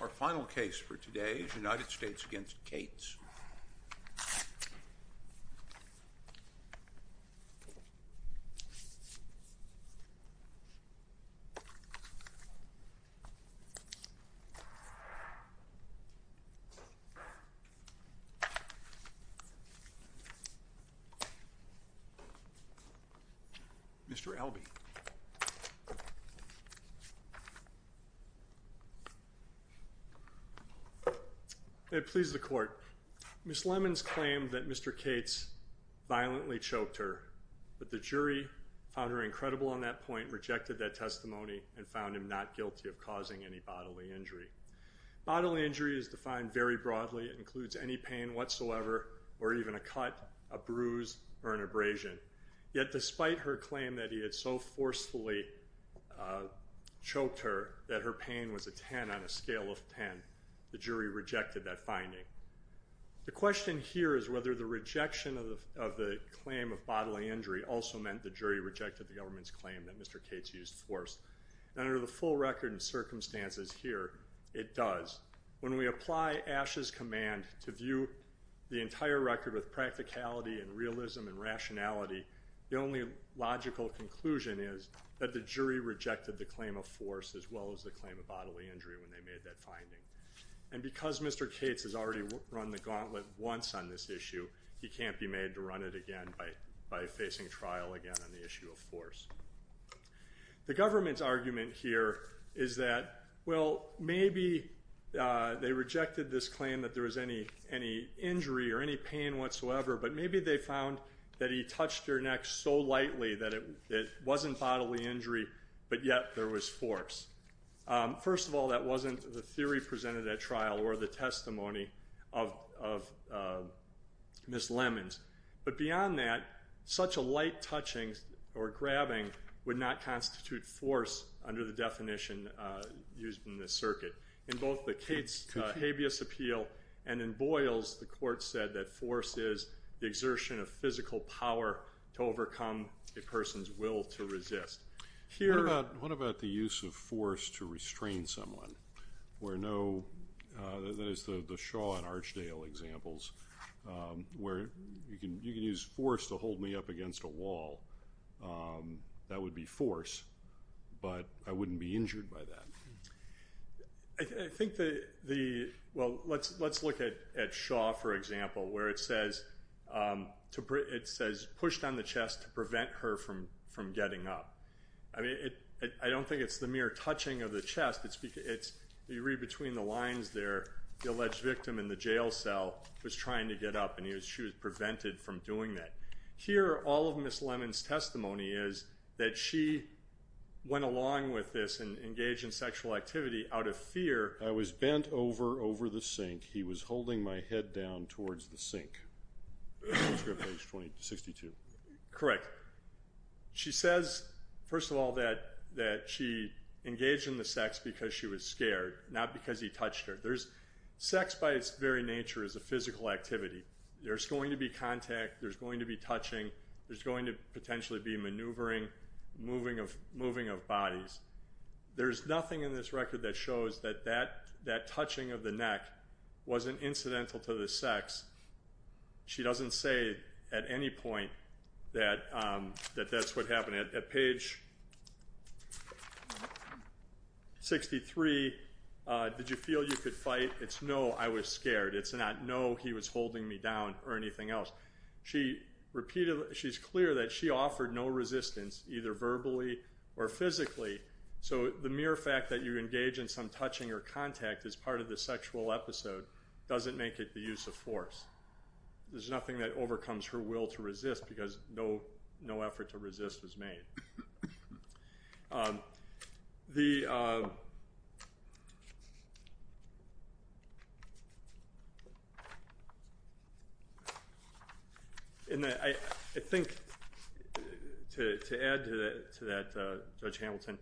Our final case for today is United States v. Cates. Mr. Albee. May it please the court. Ms. Lemons claimed that Mr. Cates violently choked her, but the jury found her incredible on that point, rejected that testimony, and found him not guilty of causing any bodily injury. Bodily injury is defined very broadly. It includes any pain whatsoever or even a cut, a bruise, or an abrasion. Yet despite her claim that he had so forcefully choked her that her pain was a 10 on a scale of 10, the jury rejected that finding. The question here is whether the rejection of the claim of bodily injury also meant the jury rejected the government's claim that Mr. Cates used force. Under the full record and circumstances here, it does. When we apply Asch's command to view the entire record with practicality and realism and rationality, the only logical conclusion is that the jury rejected the claim of force as well as the claim of bodily injury when they made that finding. And because Mr. Cates has already run the gauntlet once on this issue, he can't be made to run it again by facing trial again on the issue of force. The government's argument here is that, well, maybe they rejected this claim that there was any injury or any pain whatsoever, but maybe they found that he touched her neck so lightly that it wasn't bodily injury, but yet there was force. First of all, that wasn't the theory presented at trial or the testimony of Ms. Lemons. But beyond that, such a light touching or grabbing would not constitute force under the definition used in this circuit. In both the Cates habeas appeal and in Boyles, the court said that force is the exertion of physical power to overcome a person's will to resist. What about the use of force to restrain someone? That is the Shaw and Archdale examples where you can use force to hold me up against a wall. That would be force, but I wouldn't be injured by that. I think the, well, let's look at Shaw, for example, where it says pushed on the chest to prevent her from getting up. I mean, I don't think it's the mere touching of the chest. You read between the lines there, the alleged victim in the jail cell was trying to get up and she was prevented from doing that. Here, all of Ms. Lemons' testimony is that she went along with this and engaged in sexual activity out of fear. I was bent over, over the sink. He was holding my head down towards the sink. This was written in 1962. Correct. She says, first of all, that she engaged in the sex because she was scared, not because he touched her. Sex, by its very nature, is a physical activity. There's going to be contact. There's going to be touching. There's going to potentially be maneuvering, moving of bodies. There's nothing in this record that shows that that touching of the neck wasn't incidental to the sex. She doesn't say at any point that that's what happened. At page 63, did you feel you could fight? It's no, I was scared. It's not no, he was holding me down or anything else. She's clear that she offered no resistance, either verbally or physically, so the mere fact that you engage in some touching or contact as part of the sexual episode doesn't make it the use of force. There's nothing that overcomes her will to resist because no effort to resist was made. I think to add to that, Judge Hamilton,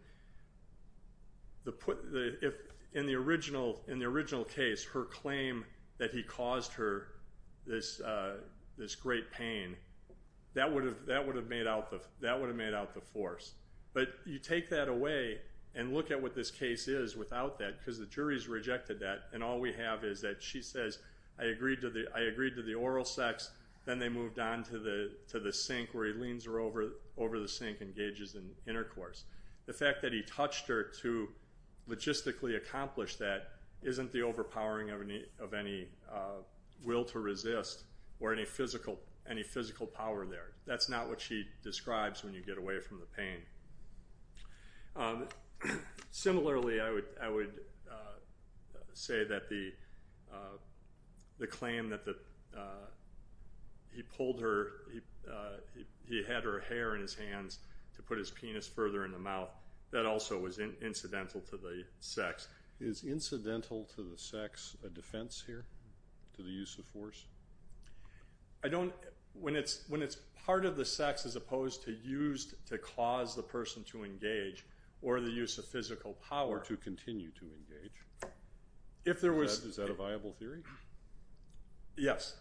in the original case, her claim that he caused her this great pain, that would have made out the force. But you take that away and look at what this case is without that because the jury has rejected that, and all we have is that she says, I agreed to the oral sex, then they moved on to the sink where he leans her over the sink and engages in intercourse. The fact that he touched her to logistically accomplish that isn't the overpowering of any will to resist or any physical power there. That's not what she describes when you get away from the pain. Similarly, I would say that the claim that he had her hair in his hands to put his penis further in the mouth, that also was incidental to the sex. Is incidental to the sex a defense here, to the use of force? When it's part of the sex as opposed to used to cause the person to engage or the use of physical power. Or to continue to engage. Is that a viable theory? Yes,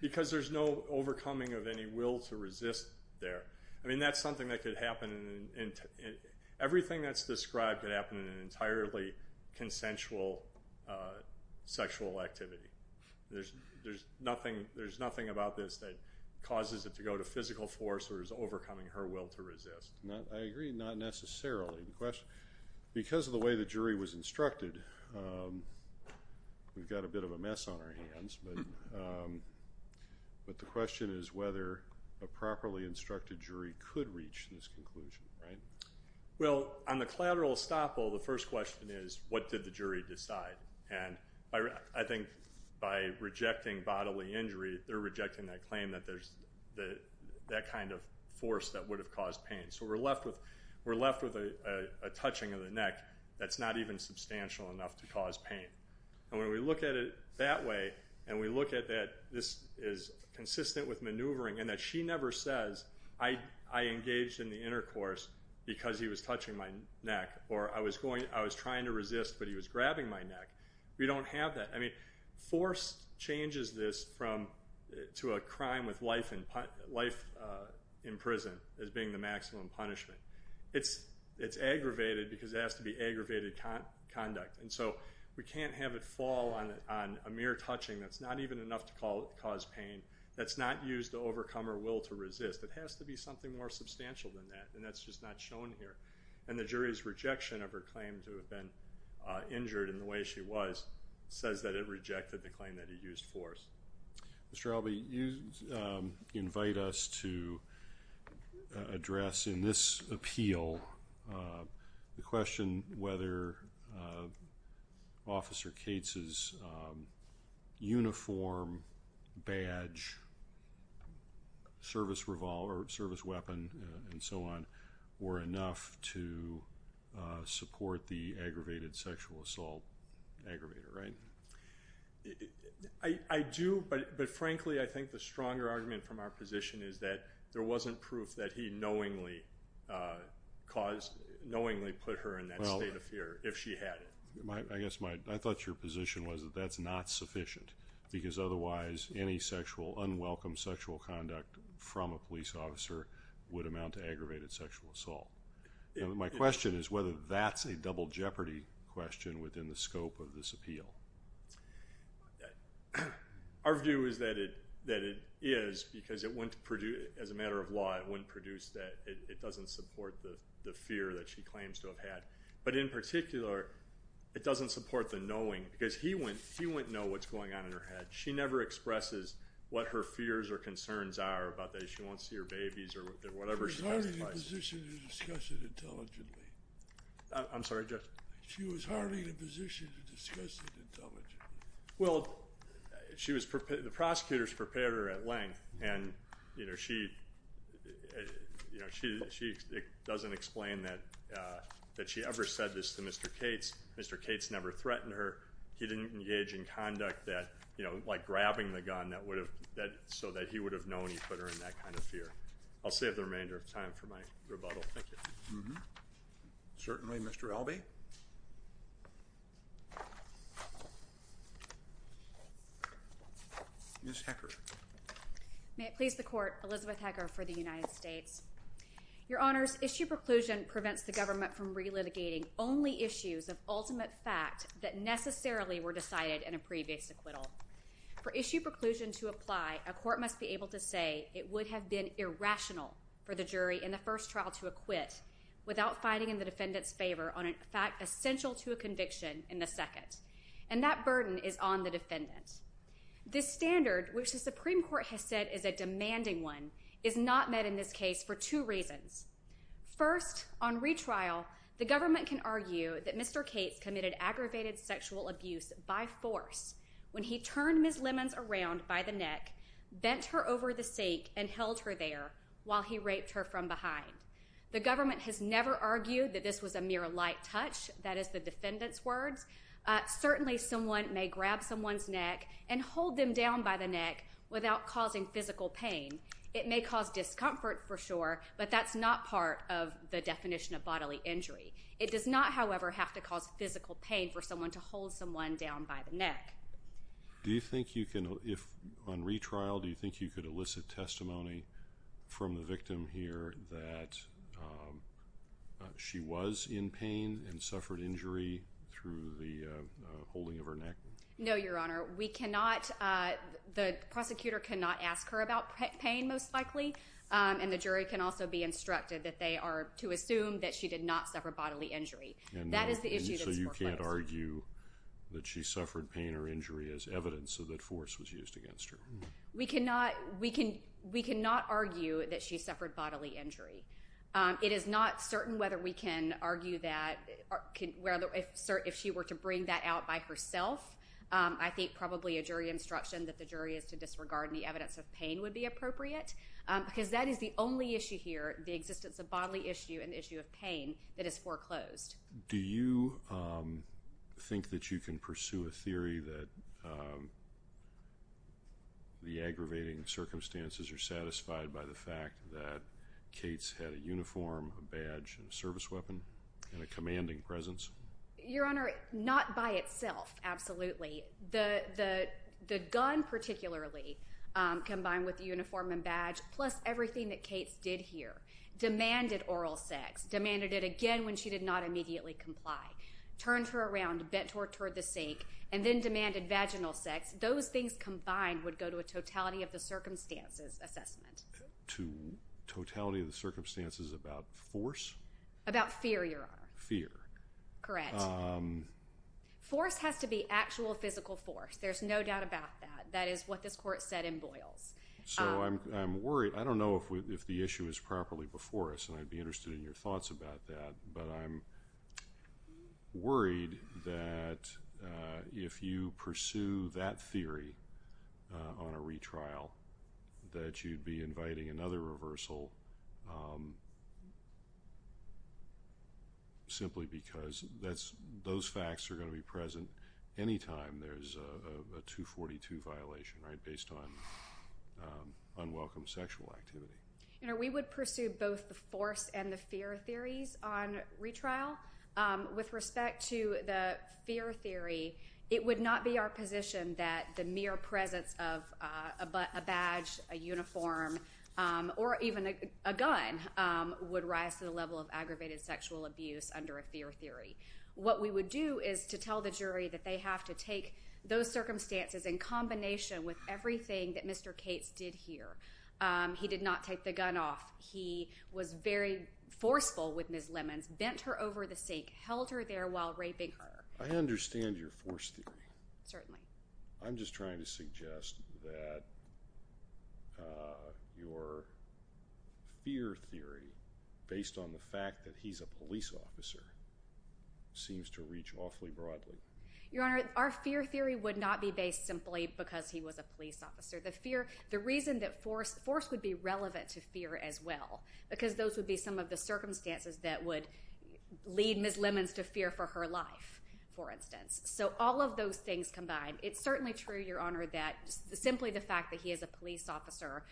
because there's no overcoming of any will to resist there. That's something that could happen. Everything that's described could happen in an entirely consensual sexual activity. There's nothing about this that causes it to go to physical force or is overcoming her will to resist. I agree, not necessarily. Because of the way the jury was instructed, we've got a bit of a mess on our hands, but the question is whether a properly instructed jury could reach this conclusion, right? Well, on the collateral estoppel, the first question is what did the jury decide? I think by rejecting bodily injury, they're rejecting that claim that there's that kind of force that would have caused pain. So we're left with a touching of the neck that's not even substantial enough to cause pain. When we look at it that way and we look at that this is consistent with maneuvering and that she never says, I engaged in the intercourse because he was touching my neck or I was trying to resist but he was grabbing my neck, we don't have that. Force changes this to a crime with life in prison as being the maximum punishment. It's aggravated because it has to be aggravated conduct. And so we can't have it fall on a mere touching that's not even enough to cause pain, that's not used to overcome her will to resist. It has to be something more substantial than that, and that's just not shown here. And the jury's rejection of her claim to have been injured in the way she was says that it rejected the claim that he used force. Mr. Albee, you invite us to address in this appeal the question whether Officer Cates' uniform, badge, service revolver, service weapon, and so on were enough to support the aggravated sexual assault aggravator, right? I do, but frankly I think the stronger argument from our position is that there wasn't proof that he knowingly put her in that state of fear if she had it. I thought your position was that that's not sufficient because otherwise any unwelcome sexual conduct from a police officer would amount to aggravated sexual assault. My question is whether that's a double jeopardy question within the scope of this appeal. Our view is that it is because as a matter of law it wouldn't produce that. It doesn't support the fear that she claims to have had. But in particular, it doesn't support the knowing because he wouldn't know what's going on in her head. She never expresses what her fears or concerns are about that she won't see her babies or whatever. She was hardly in a position to discuss it intelligently. I'm sorry, Judge? She was hardly in a position to discuss it intelligently. Well, the prosecutors prepared her at length and she doesn't explain that she ever said this to Mr. Cates. Mr. Cates never threatened her. He didn't engage in conduct like grabbing the gun so that he would have known he put her in that kind of fear. I'll save the remainder of time for my rebuttal. Thank you. Certainly, Mr. Albee. Ms. Hecker. May it please the Court, Elizabeth Hecker for the United States. Your Honors, issue preclusion prevents the government from relitigating only issues of ultimate fact that necessarily were decided in a previous acquittal. For issue preclusion to apply, a court must be able to say it would have been irrational for the jury in the first trial to acquit without fighting in the defendant's favor on a fact essential to a conviction in the second. And that burden is on the defendant. This standard, which the Supreme Court has said is a demanding one, is not met in this case for two reasons. First, on retrial, the government can argue that Mr. Cates committed aggravated sexual abuse by force when he turned Ms. Lemons around by the neck, bent her over the sake, and held her there while he raped her from behind. The government has never argued that this was a mere light touch. That is the defendant's words. Certainly, someone may grab someone's neck and hold them down by the neck without causing physical pain. It may cause discomfort, for sure, but that's not part of the definition of bodily injury. It does not, however, have to cause physical pain for someone to hold someone down by the neck. Do you think you can, on retrial, do you think you could elicit testimony from the victim here that she was in pain and suffered injury through the holding of her neck? No, Your Honor. We cannot, the prosecutor cannot ask her about pain, most likely, and the jury can also be instructed that they are to assume that she did not suffer bodily injury. That is the issue that's more close. So you can't argue that she suffered pain or injury as evidence that force was used against her? We cannot argue that she suffered bodily injury. It is not certain whether we can argue that, if she were to bring that out by herself, I think probably a jury instruction that the jury is to disregard any evidence of pain would be appropriate. Because that is the only issue here, the existence of bodily issue and issue of pain, that is foreclosed. Do you think that you can pursue a theory that the aggravating circumstances are satisfied by the fact that Cates had a uniform, a badge, and a service weapon and a commanding presence? Your Honor, not by itself, absolutely. The gun, particularly, combined with the uniform and badge, plus everything that Cates did here, demanded oral sex, demanded it again when she did not immediately comply, turned her around, bent her toward the sink, and then demanded vaginal sex. Those things combined would go to a totality of the circumstances assessment. To totality of the circumstances about force? About fear, Your Honor. Fear. Correct. Force has to be actual physical force. There's no doubt about that. That is what this Court said in Boyles. So I'm worried. I don't know if the issue is properly before us, and I'd be interested in your thoughts about that. But I'm worried that if you pursue that theory on a retrial, that you'd be inviting another reversal simply because those facts are going to be present any time there's a 242 violation, right, based on unwelcome sexual activity. Your Honor, we would pursue both the force and the fear theories on retrial. With respect to the fear theory, it would not be our position that the mere presence of a badge, a uniform, or even a gun would rise to the level of aggravated sexual abuse under a fear theory. What we would do is to tell the jury that they have to take those circumstances in combination with everything that Mr. Cates did here. He did not take the gun off. He was very forceful with Ms. Lemons, bent her over the sink, held her there while raping her. I understand your force theory. Certainly. I'm just trying to suggest that your fear theory, based on the fact that he's a police officer, seems to reach awfully broadly. Your Honor, our fear theory would not be based simply because he was a police officer. The reason that force would be relevant to fear as well, because those would be some of the circumstances that would lead Ms. Lemons to fear for her life, for instance. So all of those things combined. It's certainly true, Your Honor, that simply the fact that he is a police officer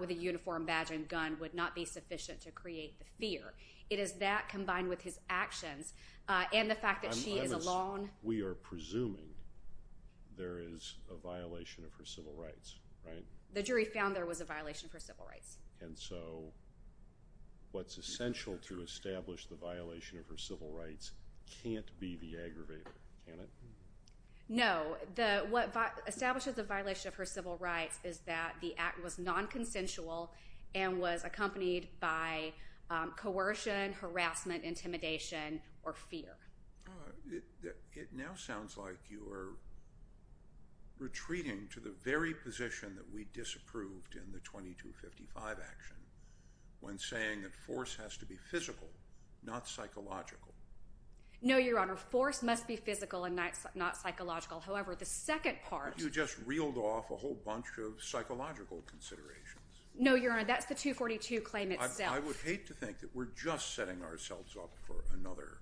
with a uniform, badge, and gun would not be sufficient to create the fear. It is that combined with his actions and the fact that she is alone. We are presuming there is a violation of her civil rights, right? The jury found there was a violation of her civil rights. And so what's essential to establish the violation of her civil rights can't be the aggravator, can it? No. What establishes the violation of her civil rights is that the act was nonconsensual and was accompanied by coercion, harassment, intimidation, or fear. It now sounds like you are retreating to the very position that we disapproved in the 2255 action when saying that force has to be physical, not psychological. No, Your Honor, force must be physical and not psychological. However, the second part… You just reeled off a whole bunch of psychological considerations. No, Your Honor, that's the 242 claim itself. I would hate to think that we're just setting ourselves up for another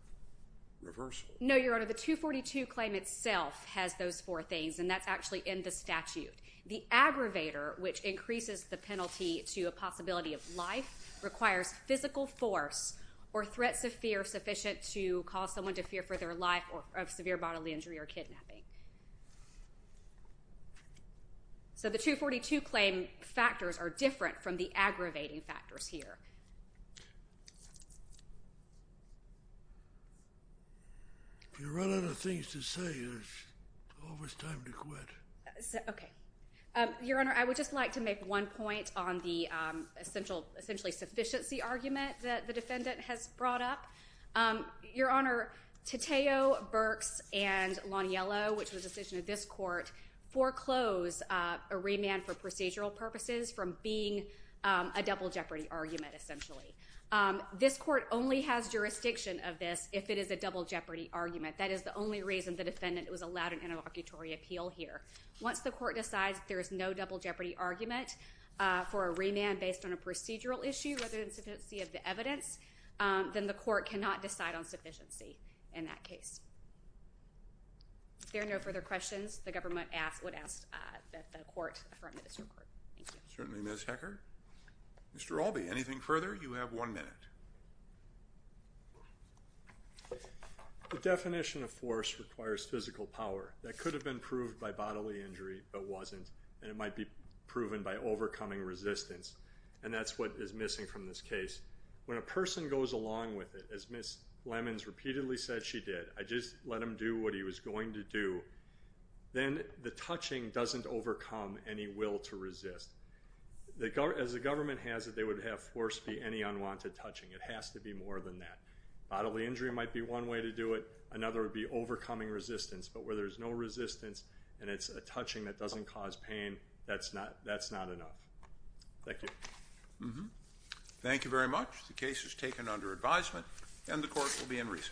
reversal. No, Your Honor, the 242 claim itself has those four things, and that's actually in the statute. The aggravator, which increases the penalty to a possibility of life, requires physical force or threats of fear sufficient to cause someone to fear for their life of severe bodily injury or kidnapping. So the 242 claim factors are different from the aggravating factors here. If you run out of things to say, there's always time to quit. Okay. Your Honor, I would just like to make one point on the essentially sufficiency argument that the defendant has brought up. Your Honor, Tateo, Burks, and Loniello, which was a decision of this court, foreclose a remand for procedural purposes from being a double jeopardy argument, essentially. This court only has jurisdiction of this if it is a double jeopardy argument. That is the only reason the defendant was allowed an interlocutory appeal here. Once the court decides there is no double jeopardy argument for a remand based on a procedural issue other than sufficiency of the evidence, then the court cannot decide on sufficiency in that case. If there are no further questions, the government would ask that the court affirm this report. Thank you. Certainly, Ms. Heckert. Mr. Albee, anything further? You have one minute. The definition of force requires physical power. That could have been proved by bodily injury but wasn't, and it might be proven by overcoming resistance, and that's what is missing from this case. When a person goes along with it, as Ms. Lemons repeatedly said she did, I just let him do what he was going to do, then the touching doesn't overcome any will to resist. As the government has it, they would have force be any unwanted touching. It has to be more than that. Bodily injury might be one way to do it. Another would be overcoming resistance, but where there's no resistance and it's a touching that doesn't cause pain, that's not enough. Thank you. Thank you very much. The case is taken under advisement, and the court will be in recess.